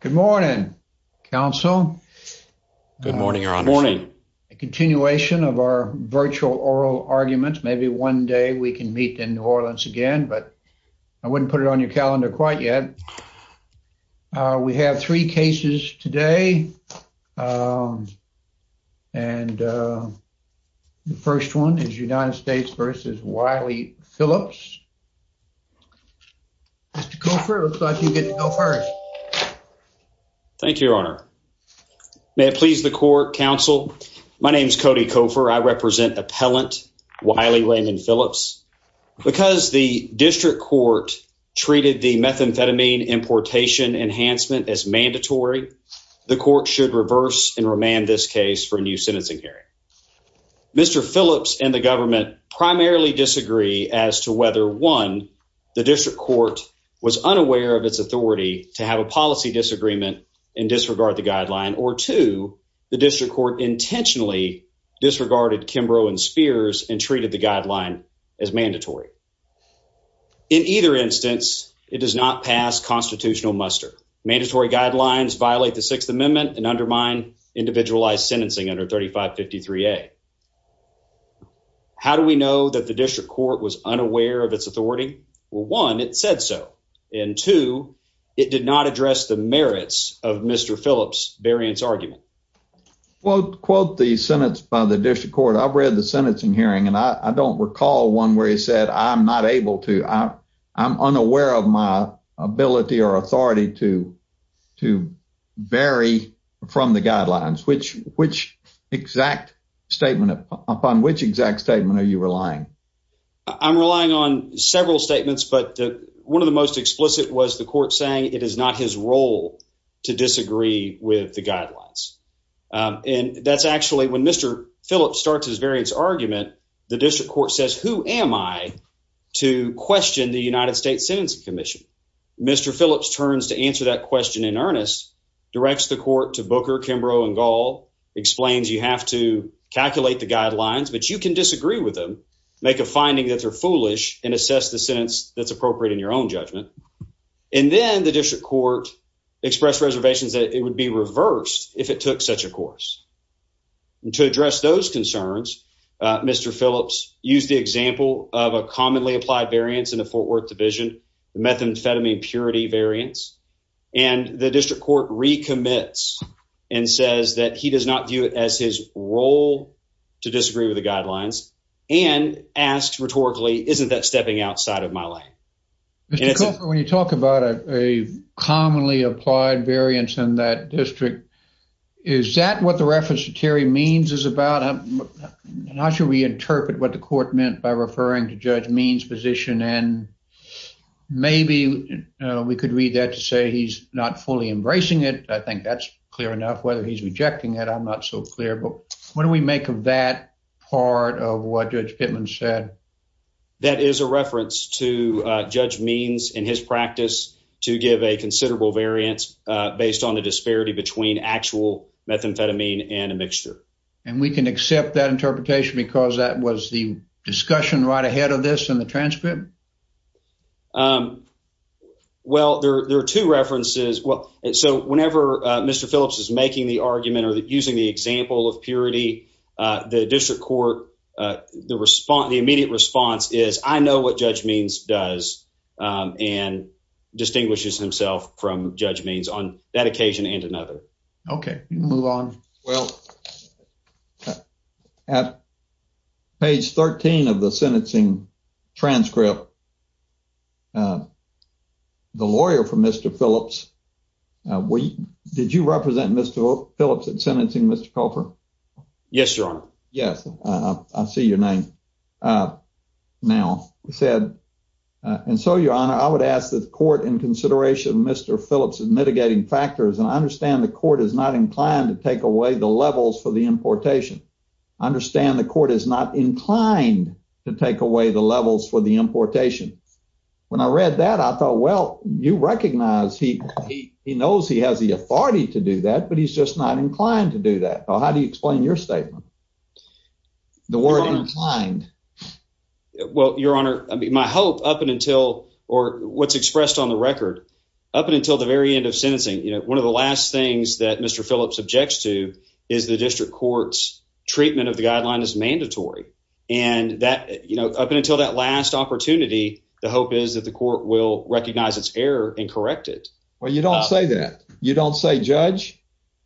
Good morning, Council. Good morning, Your Honor. A continuation of our virtual oral arguments. Maybe one day we can meet in New Orleans again, but I wouldn't put it on your calendar quite yet. We have three cases today, and the first one is United States v. Wiley Phillips. Mr. Cofer, it looks like you get to go first. Thank you, Your Honor. May it please the Court, Council, my name is Cody Cofer. I represent appellant Wiley Landon Phillips. Because the district court treated the methamphetamine importation enhancement as mandatory, the court should reverse and remand this case for a new the district court was unaware of its authority to have a policy disagreement and disregard the guideline, or two, the district court intentionally disregarded Kimbrough and Spears and treated the guideline as mandatory. In either instance, it does not pass constitutional muster. Mandatory guidelines violate the Sixth Amendment and undermine individualized sentencing under 3553A. How do we know that the district court was unaware of its authority? Well, one, it said so, and two, it did not address the merits of Mr. Phillips' variance argument. Quote the sentence by the district court. I've read the sentencing hearing, and I don't recall one where he said, I'm not able to, I'm unaware of my ability or authority to vary from the guidelines. Which exact statement, upon which exact statement are you relying? I'm relying on several statements, but one of the most explicit was the court saying it is not his role to disagree with the guidelines. And that's actually, when Mr. Phillips starts his variance argument, the district court says, who am I to question the United States Sentencing Commission? Mr. Phillips turns to answer that question in earnest, directs the court to Booker, Kimbrough, and Gall, explains you have to calculate the guidelines, but you can disagree with them, make a finding that they're foolish, and assess the sentence that's appropriate in your own judgment. And then the district court expressed reservations that it would be reversed if it took such a course. And to address those concerns, Mr. Phillips used the example of a commonly applied variance in the Fort Worth division, the methamphetamine purity variance. And the district court recommits and says that he does not view it as his role to disagree with the guidelines, and asks rhetorically, isn't that stepping outside of my lane? Mr. Cooper, when you talk about a commonly applied variance in that district, is that what the reference to Terry Means is about? I'm not sure we interpret what the court meant by referring to Judge Means' position, and maybe we could read that to say he's not fully embracing it. I think that's clear enough. Whether he's rejecting it, I'm not so clear. But what do we make of that part of what Judge Pittman said? That is a reference to Judge Means in his practice to give a considerable variance based on the interpretation. Was the discussion right ahead of this in the transcript? Well, there are two references. Whenever Mr. Phillips is making the argument or using the example of purity, the district court, the immediate response is, I know what Judge Means does and distinguishes himself from Judge Means on that occasion and another. You can move on. Well, at page 13 of the sentencing transcript, the lawyer for Mr. Phillips, did you represent Mr. Phillips in sentencing, Mr. Cooper? Yes, Your Honor. Yes. I see your name now. And so, Your Honor, I would ask the court in consideration of Mr. Phillips' mitigating factors, and I understand the court is not inclined to take away the levels for the importation. I understand the court is not inclined to take away the levels for the importation. When I read that, I thought, well, you recognize he knows he has the authority to do that, but he's just not inclined to do that. So, how do you explain your statement? The word inclined. Well, Your Honor, my hope up until or what's expressed on the record, up until the very end of sentencing, one of the last things that Mr. Phillips objects to is the district court's treatment of the guideline is mandatory. And up until that last opportunity, the hope is that the court will recognize its error and correct it. Well, you don't say that. You don't say, Judge,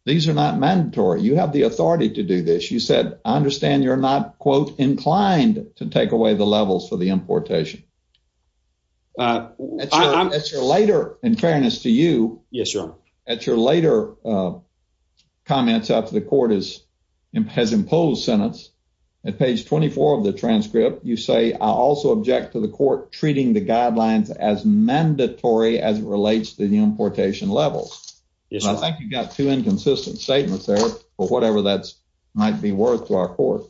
these are not mandatory. You have the authority to do this. You said, I understand you're not, quote, inclined to take away the levels for the importation. In fairness to you, at your later comments after the court has imposed sentence, at page 24 of the transcript, you say, I also object to the court treating the guidelines as mandatory as it relates to the importation levels. I think you've got two inconsistent statements there for whatever that might be worth to our court.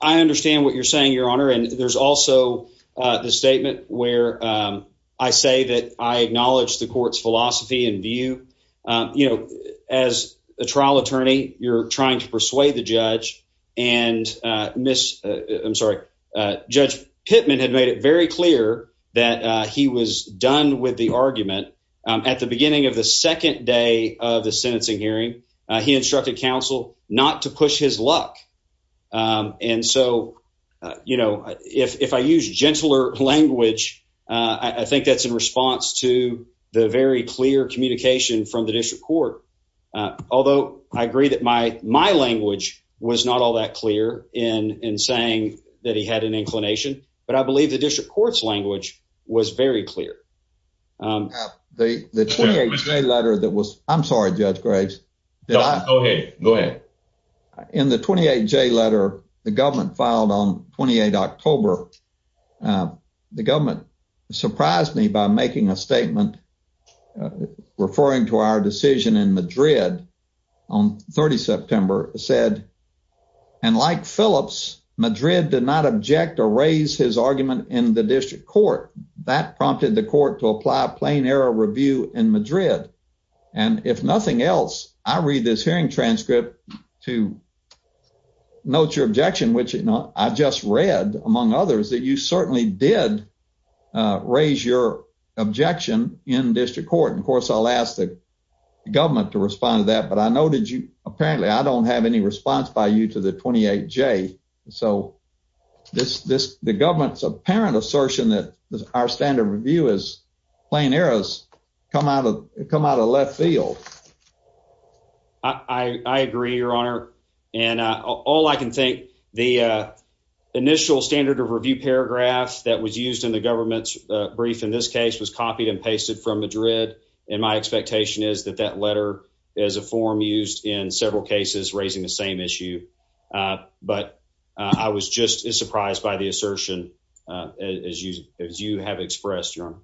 I understand what you're saying, Your Honor. And there's also the statement where I say that I acknowledge the court's philosophy and view. As a trial attorney, you're trying to persuade the judge. And Judge Pittman had made it very clear that he was done with the argument. At the beginning of the second day of the sentencing hearing, he instructed counsel not to push his luck. And so, you know, if I use gentler language, I think that's in response to the very clear communication from the district court. Although I agree that my language was not all that clear in saying that he had an inclination, but I believe the district court's language was very clear. The 28J letter that was, I'm sorry, Judge Graves. Go ahead. In the 28J letter, the government filed on 28 October, the government surprised me by making a statement referring to our decision in Madrid on 30 September said, and like Phillips, Madrid did not object or raise his argument in the district court. That prompted the court to apply a plain error review in Madrid. And if nothing else, I read this hearing transcript to note your objection, which I just read, among others, that you certainly did raise your objection in district court. And of course, I'll ask the government to respond to that. But I know that you apparently I don't have any response by you to the 28J. So this the government's apparent assertion that our standard review is plain errors come out of come out of left field. I agree, Your Honor. And all I can think the initial standard of review paragraph that was used in the government's brief in this case was copied and pasted from Madrid. And my expectation is that that letter is a form used in several cases raising the same issue. But I was just as surprised by the assertion as you as you have expressed, Your Honor.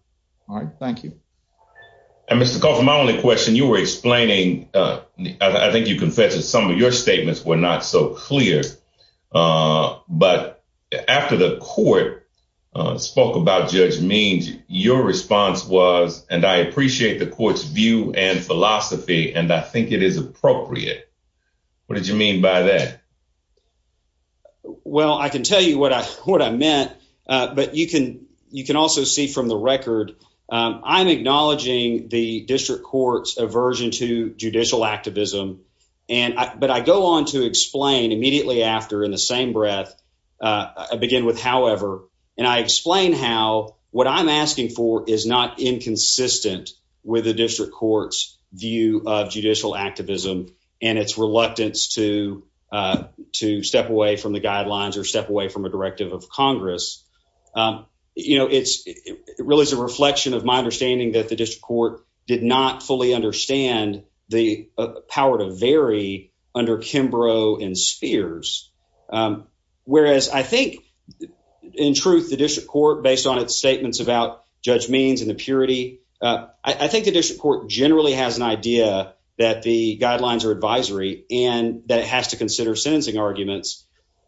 All right. Thank you. And Mr. Coffin, my only question you were explaining. I think you confess that some of your statements were not so clear. But after the court spoke about Judge Means, your response was, and I appreciate the court's view and philosophy, and I think it is appropriate. What did you mean by that? Well, I can tell you what I what I meant. But you can you can also see from the record, I'm acknowledging the district court's aversion to judicial activism. And but I go on to explain immediately after in the same breath. I begin with, however, and I explain how what I'm asking for is not inconsistent with the district court's view of judicial activism and its reluctance to to step away from the guidelines or step away from a directive of Congress. You know, it's it really is a reflection of my understanding that the district court did not fully understand the power to vary under Kimbrough and Spears. Whereas I think, in truth, the district court, based on its statements about Judge Means and the purity, I think the district court generally has an idea that the guidelines are advisory and that it has to consider sentencing arguments.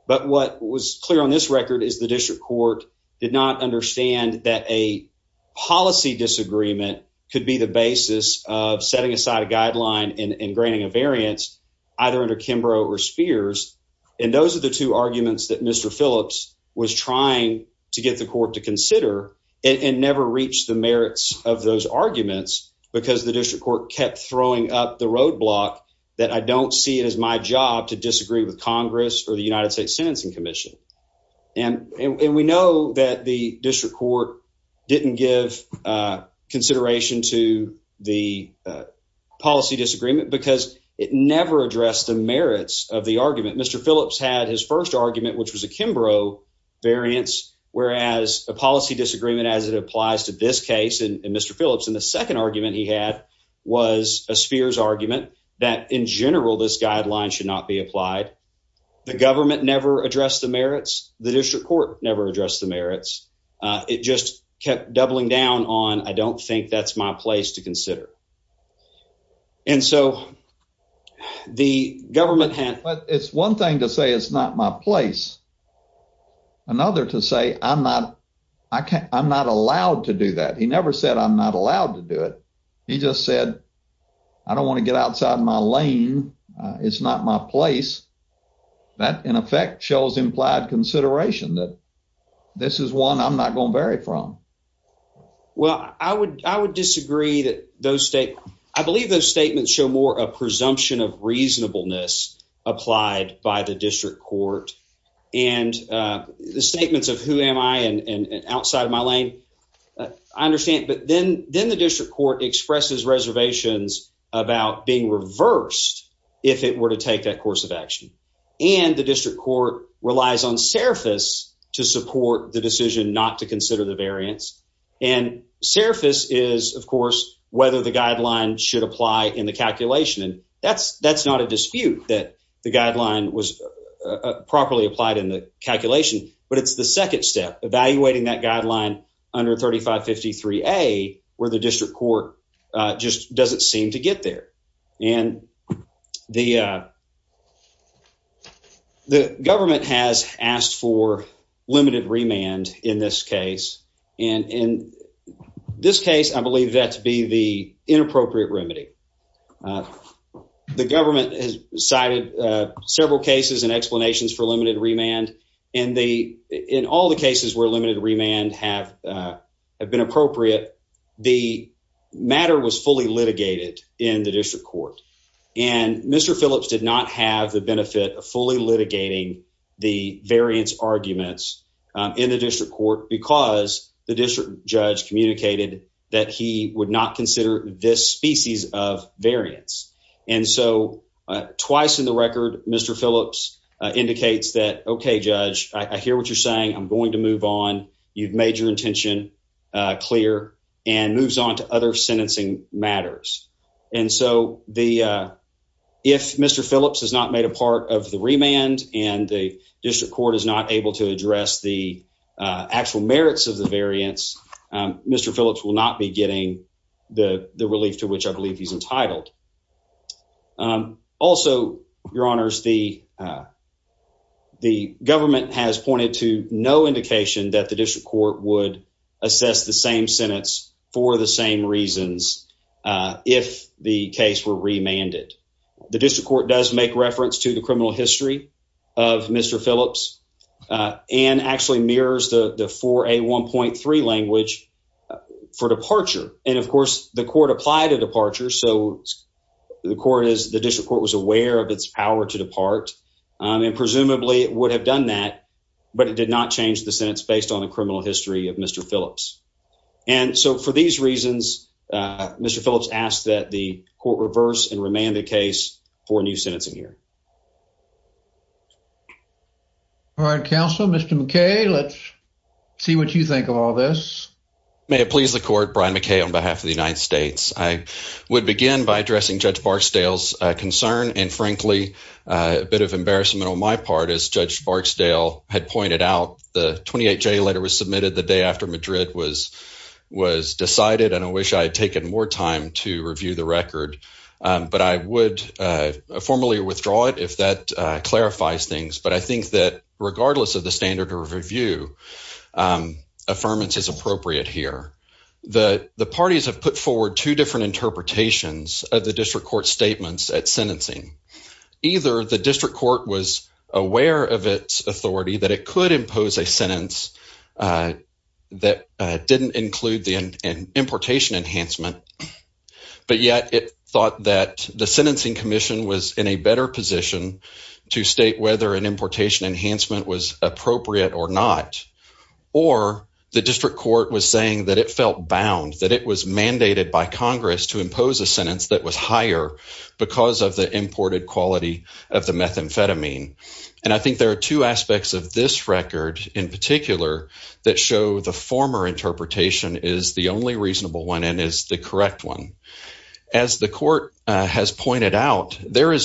But what was clear on this record is the district court did not understand that a policy disagreement could be the basis of setting aside a guideline and granting a variance either under Kimbrough or Spears. And those are the two arguments that Mr. Phillips was trying to get the court to consider and never reached the merits of those arguments because the district court kept throwing up the roadblock that I don't see it as my job to disagree with Congress or the United States Sentencing Commission. And we know that the district court didn't give consideration to the policy disagreement because it never addressed the merits of the argument. Mr. Phillips had his first argument, which was a Kimbrough variance, whereas a policy disagreement as it applies to this case and Mr. Phillips in the second argument he had was a Spears argument that in general this guideline should not be applied. The government never addressed the merits. The district court never addressed the merits. It just kept doubling down on I don't think that's my place to consider. And so the government had. But it's one thing to say it's not my place. Another to say I'm not I can't I'm not allowed to do that. He never said I'm not allowed to do it. He just said I don't want to get outside my lane. It's not my place. That, in effect, shows implied consideration that this is one I'm not going to vary from. Well, I would I would disagree that those state. I believe those statements show more a presumption of reasonableness applied by the district court and the statements of who am I and outside of my lane. I understand. But then then the district court expresses reservations about being reversed if it were to take that course of action and the district court relies on surface to support the decision not to consider the variance and surface is, of course, whether the guideline should apply in the calculation. And that's that's not a dispute that the guideline was properly applied in the calculation. But it's the second step evaluating that guideline under thirty five fifty three a where the district court just doesn't seem to get there. And the the government has asked for limited remand in this case. And in this case, I believe that to be the inappropriate remedy. The government has cited several cases and explanations for limited remand in the in all the cases where limited remand have been appropriate. The matter was fully litigated in the district court, and Mr Phillips did not have the benefit of fully litigating the variance arguments in the district court because the district judge communicated that he would not consider this species of variance. And so twice in the record, Mr Phillips indicates that. Okay, Judge, I hear what you're saying. I'm going to move on. You've made your intention clear and moves on to other sentencing matters. And so the if Mr Phillips has not made a part of the remand and the district court is not able to address the actual merits of the variance, Mr Phillips will not be getting the relief to which I believe he's entitled. Um, also, Your Honor's the, uh, the government has pointed to no indication that the district court would assess the same sentence for the same reasons. Uh, if the case were remanded, the district court does make reference to the criminal history of Mr Phillips and actually mirrors the four a 1.3 language for departure. And, of course, the court applied a departure. So the court is the district court was aware of its power to depart, and presumably it would have done that. But it did not change the sentence based on the criminal history of Mr Phillips. And so for these reasons, Mr Phillips asked that the court reverse and remand the case for new sentencing here. All right, Council, Mr McKay, let's see what you think of all this. May it please the court. Brian McKay on behalf of the United States. I would begin by addressing Judge Barksdale's concern and, frankly, a bit of embarrassment on my part, as Judge Barksdale had pointed out. The 28 J letter was submitted the day after Madrid was was decided, and I wish I had taken more time to review the record. But I would formally withdraw it if that clarifies things. But I think that regardless of the standard of review, affirmance is appropriate here. The parties have put forward two different interpretations of the district court statements at sentencing. Either the district court was aware of its authority that it could impose a sentence that didn't include the importation enhancement, but yet it thought that the sentencing commission was in a better position to state whether an importation enhancement was appropriate or not. Or the district court was saying that it felt bound, that it was mandated by Congress to impose a sentence that was higher because of the imported quality of the methamphetamine. And I think there are two aspects of this record in particular that show the former interpretation is the only is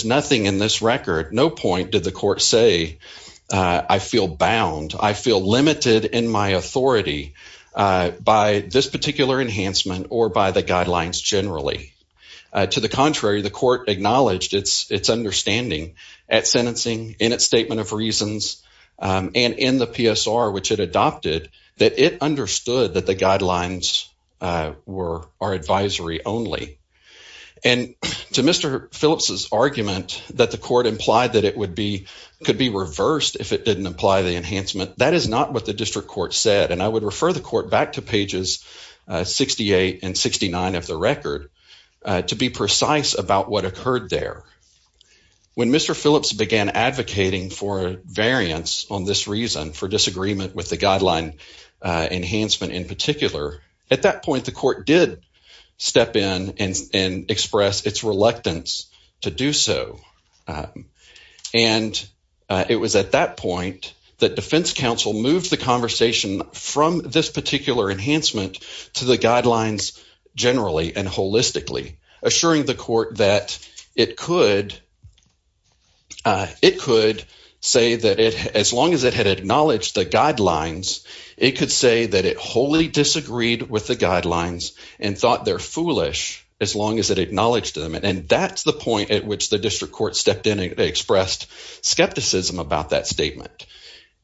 nothing in this record. No point did the court say, I feel bound, I feel limited in my authority by this particular enhancement or by the guidelines generally. To the contrary, the court acknowledged its understanding at sentencing in its statement of reasons and in the PSR, which it adopted, that it understood that the guidelines were our advisory only. And to Mr. Phillips's argument that the court implied that it would be, could be reversed if it didn't apply the enhancement, that is not what the district court said. And I would refer the court back to pages 68 and 69 of the record to be precise about what occurred there. When Mr. Phillips began advocating for a variance on this reason for disagreement with the guideline enhancement in particular, at that point, the court did step in and express its reluctance to do so. And it was at that point that defense counsel moved the conversation from this particular enhancement to the guidelines generally and holistically, assuring the court that it could say that as long as it had acknowledged the guidelines, it could say that it wholly disagreed with the guidelines and thought they're foolish as long as it acknowledged them. And that's the point at which the district court stepped in and expressed skepticism about that statement.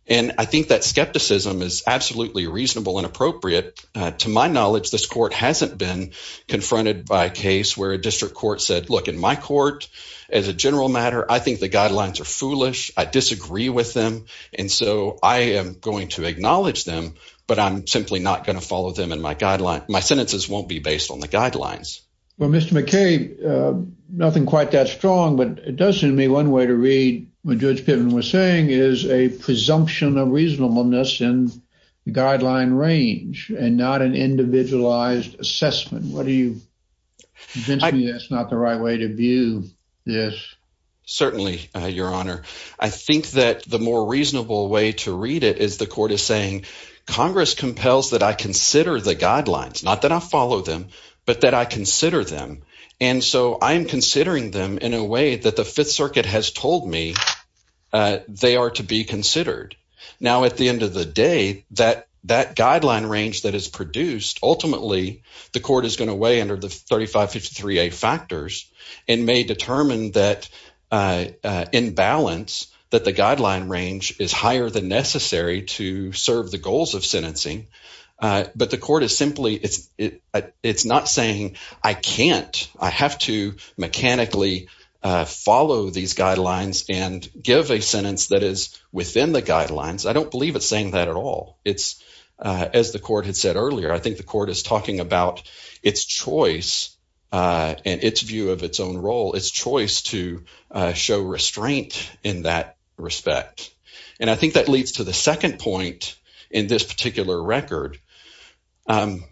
And I think that skepticism is absolutely reasonable and appropriate. To my knowledge, this court hasn't been confronted by a case where a district court said, look, in my court, as a general matter, I think the guidelines are foolish. I disagree with them. And so I am going to acknowledge them, but I'm simply not going to follow them in my guideline. My sentences won't be based on the guidelines. Well, Mr. McKay, nothing quite that strong, but it does seem to me one way to read what Judge Piven was saying is a presumption of reasonableness in the guideline range and not an individualized assessment. What do you think? That's not the right way to view this. Certainly, Your Honor. I think that the more reasonable way to read it is the court is saying Congress compels that I consider the guidelines, not that I follow them, but that I consider them. And so I am considering them in a way that the Fifth Circuit has told me they are to be considered. Now, at the end of the day, that guideline range that is produced, ultimately the court is going to weigh under the 3553A factors and may determine in balance that the guideline range is higher than necessary to serve the goals of sentencing. But the court is simply, it's not saying I can't, I have to mechanically follow these guidelines and give a sentence that is within the guidelines. I don't believe it's saying that at all. It's, the court had said earlier, I think the court is talking about its choice and its view of its own role, its choice to show restraint in that respect. And I think that leads to the second point in this particular record,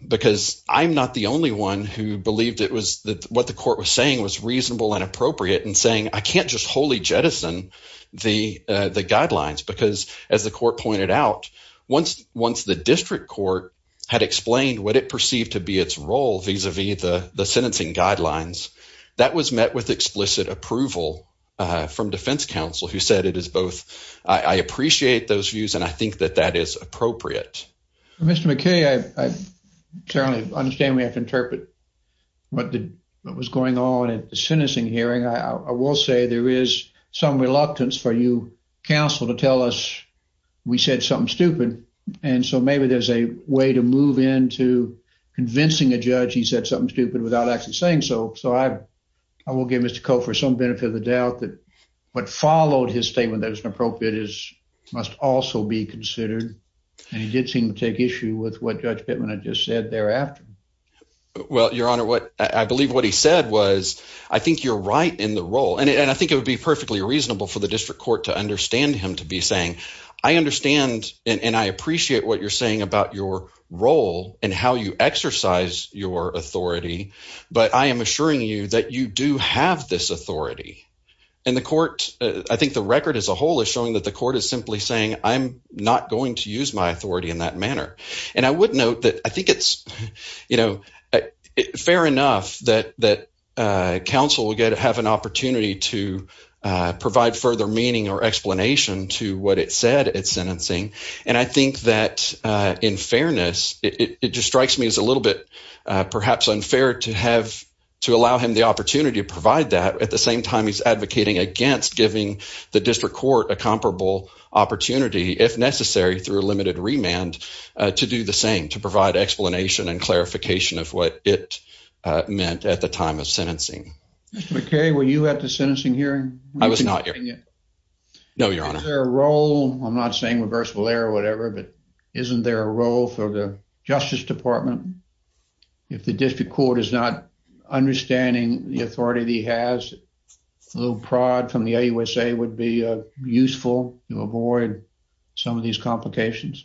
because I'm not the only one who believed it was that what the court was saying was reasonable and appropriate and saying, I can't just wholly jettison the guidelines. Because as the court pointed out, once the district court had explained what it perceived to be its role vis-a-vis the sentencing guidelines, that was met with explicit approval from defense counsel, who said it is both, I appreciate those views and I think that that is appropriate. Mr. McKay, I clearly understand we have to interpret what was going on at the sentencing hearing. I will say there is some reluctance for you, counsel, to tell us we said something stupid. And so maybe there's a way to move into convincing a judge he said something stupid without actually saying so. So I will give Mr. Coe for some benefit of the doubt that what followed his statement that was inappropriate must also be considered. And he did seem to take issue with what Judge Bittman had just said thereafter. Well, Your Honor, I believe what he said was, I think you're right in the role. And I think it would be perfectly reasonable for the district court to understand him to be saying, I understand and I appreciate what you're saying about your role and how you exercise your authority, but I am assuring you that you do have this authority. And the court, I think the record as a whole is showing that the court is simply saying, I'm not going to use my authority in that manner. And I would note that I think it's, you know, fair enough that counsel will get to have an opportunity to provide further meaning or explanation to what it said at sentencing. And I think that in fairness, it just strikes me as a little bit perhaps unfair to have, to allow him the opportunity to provide that at the same time he's advocating against giving the district court a comparable opportunity, if necessary, through a limited remand to do the same, to provide explanation and clarification of what it meant at the time of sentencing. Mr. McKay, were you at the sentencing hearing? I was not. No, Your Honor. Is there a role, I'm not saying reversible error or whatever, but isn't there a role for the Justice Department if the district court is not understanding the complications?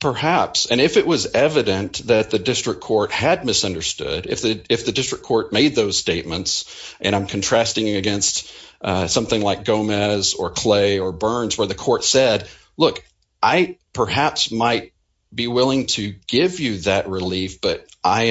Perhaps. And if it was evident that the district court had misunderstood, if the district court made those statements, and I'm contrasting against something like Gomez or Clay or Burns, where the court said, look, I perhaps might be willing to give you that relief, but I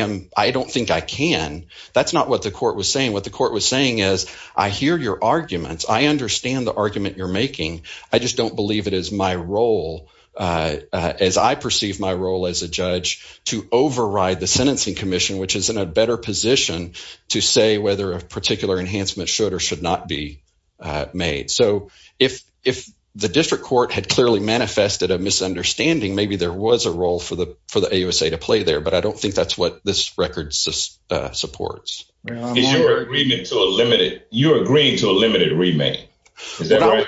don't think I can. That's not what the court was saying. What the court was saying is, I hear your arguments. I understand the argument you're making. I just don't believe it is my role as I perceive my role as a judge to override the sentencing commission, which is in a better position to say whether a particular enhancement should or should not be made. So if the district court had clearly manifested a misunderstanding, maybe there was a role for the AUSA to play there, but I don't think that's what this record supports. Is your agreement to a limited, is that right?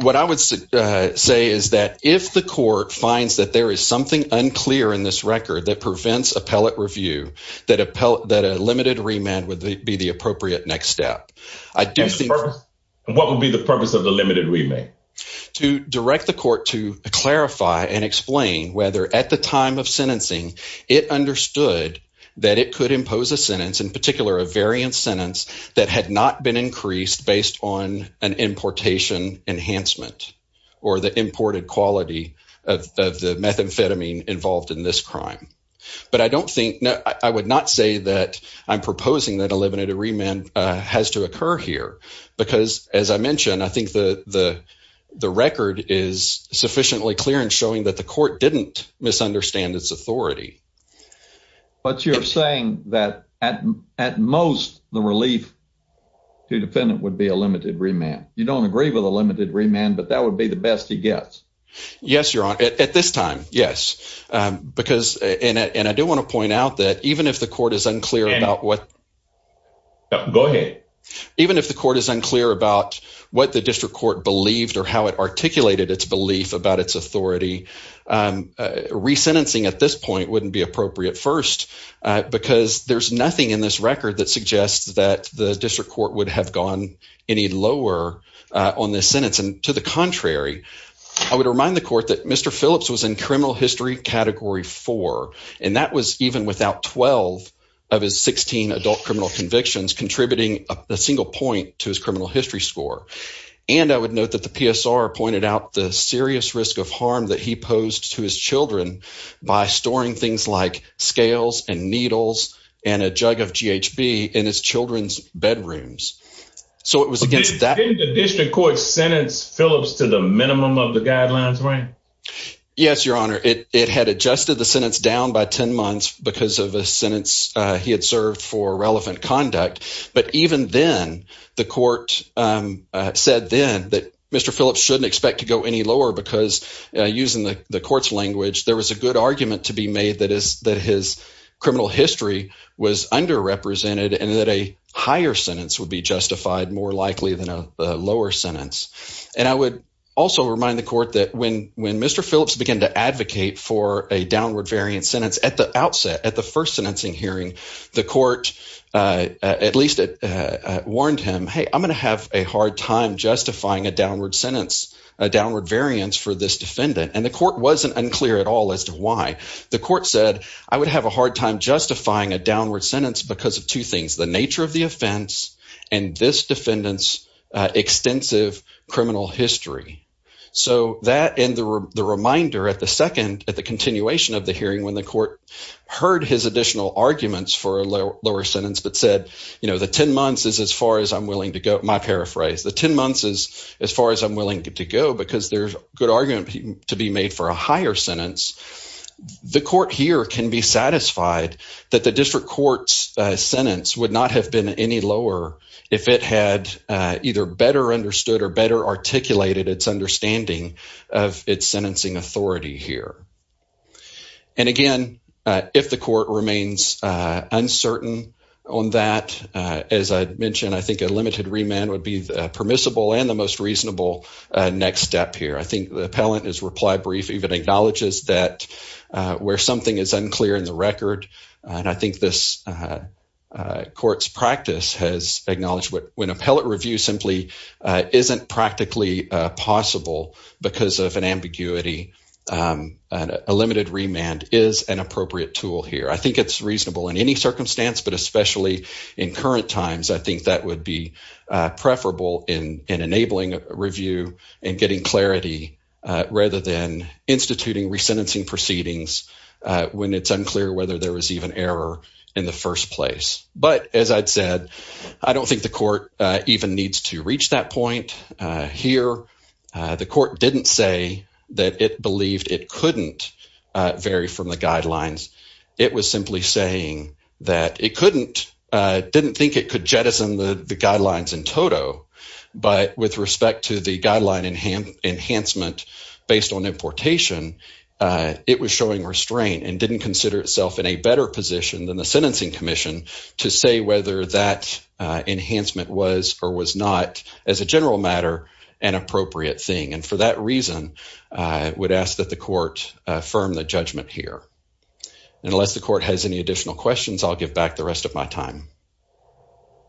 What I would say is that if the court finds that there is something unclear in this record that prevents appellate review, that a limited remand would be the appropriate next step. What would be the purpose of the limited remand? To direct the court to clarify and explain whether at the time of sentencing, it understood that it could impose a sentence, in particular, a variant sentence that had not been increased based on an importation enhancement or the imported quality of the methamphetamine involved in this crime. But I don't think, I would not say that I'm proposing that a limited remand has to occur here because as I mentioned, I think the record is sufficiently clear in showing that the court didn't misunderstand its authority. But you're saying that at most, the relief to defendant would be a limited remand. You don't agree with a limited remand, but that would be the best he gets. Yes, your honor. At this time, yes. Because, and I do want to point out that even if the court is unclear about what, go ahead, even if the court is unclear about what the district court believed or how it at this point wouldn't be appropriate first, because there's nothing in this record that suggests that the district court would have gone any lower on this sentence. And to the contrary, I would remind the court that Mr. Phillips was in criminal history category four, and that was even without 12 of his 16 adult criminal convictions contributing a single point to his criminal history score. And I would note that the PSR pointed out the serious risk of harm that he would have by storing things like scales and needles and a jug of GHB in his children's bedrooms. So it was against that. Didn't the district court sentence Phillips to the minimum of the guidelines, right? Yes, your honor. It had adjusted the sentence down by 10 months because of a sentence he had served for relevant conduct. But even then the court said then that Mr. Phillips shouldn't expect to go any lower because using the court's language, there was a argument to be made that his criminal history was underrepresented and that a higher sentence would be justified more likely than a lower sentence. And I would also remind the court that when Mr. Phillips began to advocate for a downward variant sentence at the outset, at the first sentencing hearing, the court at least warned him, hey, I'm going to have a hard time justifying a downward sentence, a downward variance for this defendant. And the court wasn't unclear at all as to why. The court said, I would have a hard time justifying a downward sentence because of two things, the nature of the offense and this defendant's extensive criminal history. So that and the reminder at the second, at the continuation of the hearing when the court heard his additional arguments for a lower sentence, but said, you know, the 10 months is as far as I'm willing to go. My paraphrase, the 10 months is as far as I'm willing to go because there's good argument to be made for a higher sentence. The court here can be satisfied that the district court's sentence would not have been any lower if it had either better understood or better articulated its understanding of its sentencing authority here. And again, if the court remains uncertain on that, as I mentioned, I think a limited remand would be permissible and the most reasonable next step here. I think the appellant is reply brief, even acknowledges that where something is unclear in the record, and I think this court's practice has acknowledged when appellate review simply isn't practically possible because of an ambiguity, a limited remand is an appropriate tool here. I think it's reasonable in any circumstance, but especially in current times, I think that would be preferable in enabling a review and getting clarity rather than instituting resentencing proceedings when it's unclear whether there was even error in the first place. But as I'd said, I don't think the court even needs to reach that point here. The court didn't say that it believed it couldn't vary from the guidelines. It was simply saying that it didn't think it could jettison the guidelines in total, but with respect to the guideline enhancement based on importation, it was showing restraint and didn't consider itself in a better position than the sentencing commission to say whether that enhancement was or was not, as a general matter, an appropriate thing. And for that unless the court has any additional questions, I'll give back the rest of my time.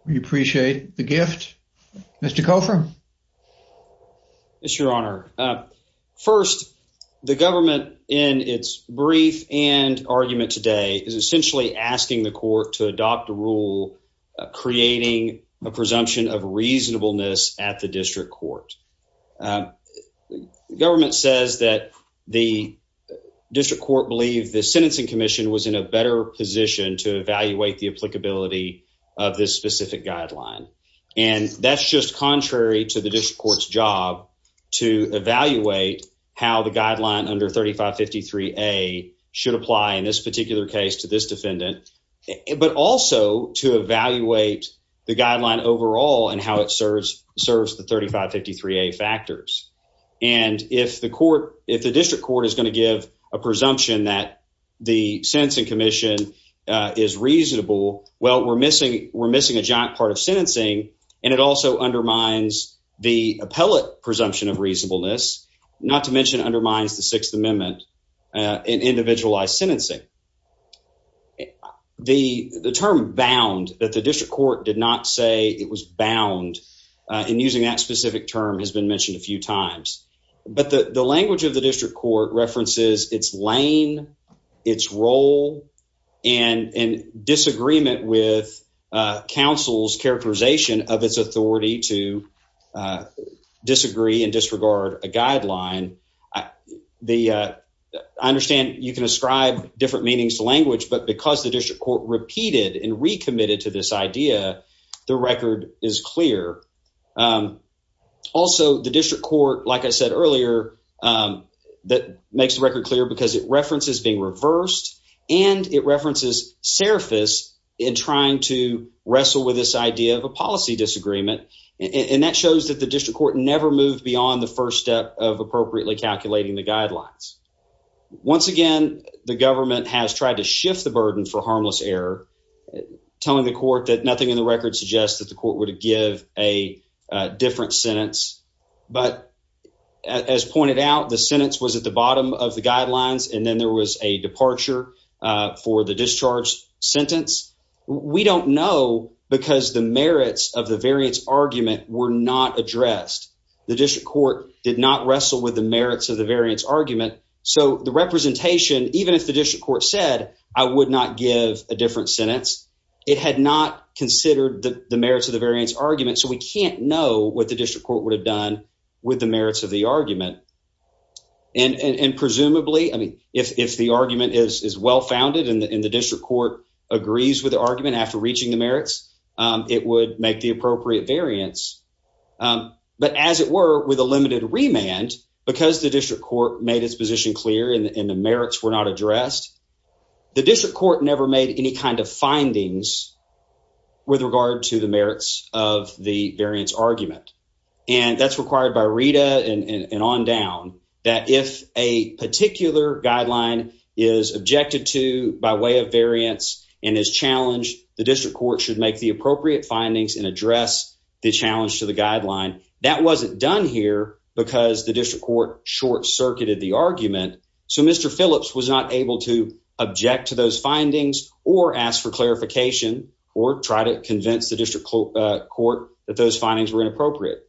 We appreciate the gift. Mr. Cofer? Yes, your honor. First, the government in its brief and argument today is essentially asking the court to adopt a rule creating a presumption of reasonableness at the district court. The government says that the district court believe the sentencing commission was in a better position to evaluate the applicability of this specific guideline. And that's just contrary to the district court's job to evaluate how the guideline under 3553A should apply in this particular case to this defendant, but also to evaluate the guideline overall and how it serves the 3553A factors. And if the district court is going to give a presumption that the sentencing commission is reasonable, well, we're missing a giant part of sentencing, and it also undermines the appellate presumption of reasonableness, not to mention undermines the Sixth Amendment in individualized sentencing. The term bound that the district court did not say it was bound, and using that specific term has been mentioned a few times. But the language of the district court references its lane, its role, and disagreement with counsel's characterization of its authority to disagree and disregard a guideline. I understand you can ascribe different meanings to language, but because the district court repeated and recommitted to this idea, the record is clear. Also, the district court, like I said earlier, makes the record clear because it references being reversed, and it references serifice in trying to wrestle with this idea of a policy disagreement. And that shows that the district court never moved beyond the first step of appropriately calculating the guidelines. Once again, the government has tried to shift the burden for harmless error, telling the court that nothing in the record suggests that the court would give a different sentence. But as pointed out, the sentence was at the bottom of the guidelines, and then there was a departure for the discharge sentence. We don't know because the merits of the variance argument were not addressed. The district court did not wrestle with the merits of the variance argument. So the representation, even if the district court said, I would not give a argument, so we can't know what the district court would have done with the merits of the argument. And presumably, I mean, if the argument is well-founded and the district court agrees with the argument after reaching the merits, it would make the appropriate variance. But as it were, with a limited remand, because the district court made its position clear and the merits were not addressed, the district court never made any kind of findings with regard to the merits of the variance argument. And that's required by Rita and on down that if a particular guideline is objected to by way of variance and is challenged, the district court should make the appropriate findings and address the challenge to the guideline. That wasn't done here because the district court short-circuited the argument. So Mr. Phillips was not able to object to those findings or ask for clarification or try to convince the district court that those findings were inappropriate.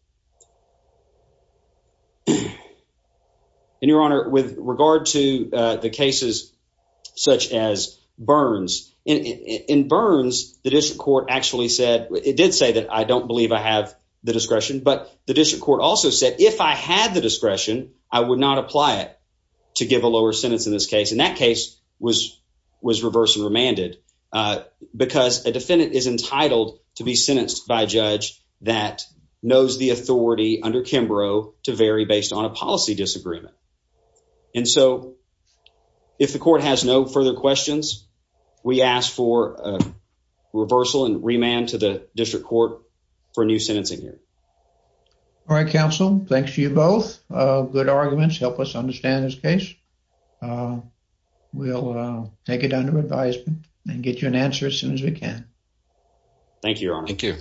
And your honor, with regard to the cases such as Burns, in Burns, the district court actually said, it did say that I don't believe I have the discretion, but the district court also said, if I had the discretion, I would not apply it to give a lower sentence in this case. And that case was reversed and remanded because a defendant is entitled to be sentenced by a judge that knows the authority under Kimbrough to vary based on a policy disagreement. And so if the court has no further questions, we ask for a reversal and remand to the district court for a new sentencing year. All right, counsel. Thanks to you both. Good arguments. Help us understand this case. We'll take it under advisement and get you an answer as soon as we can. Thank you, your honor.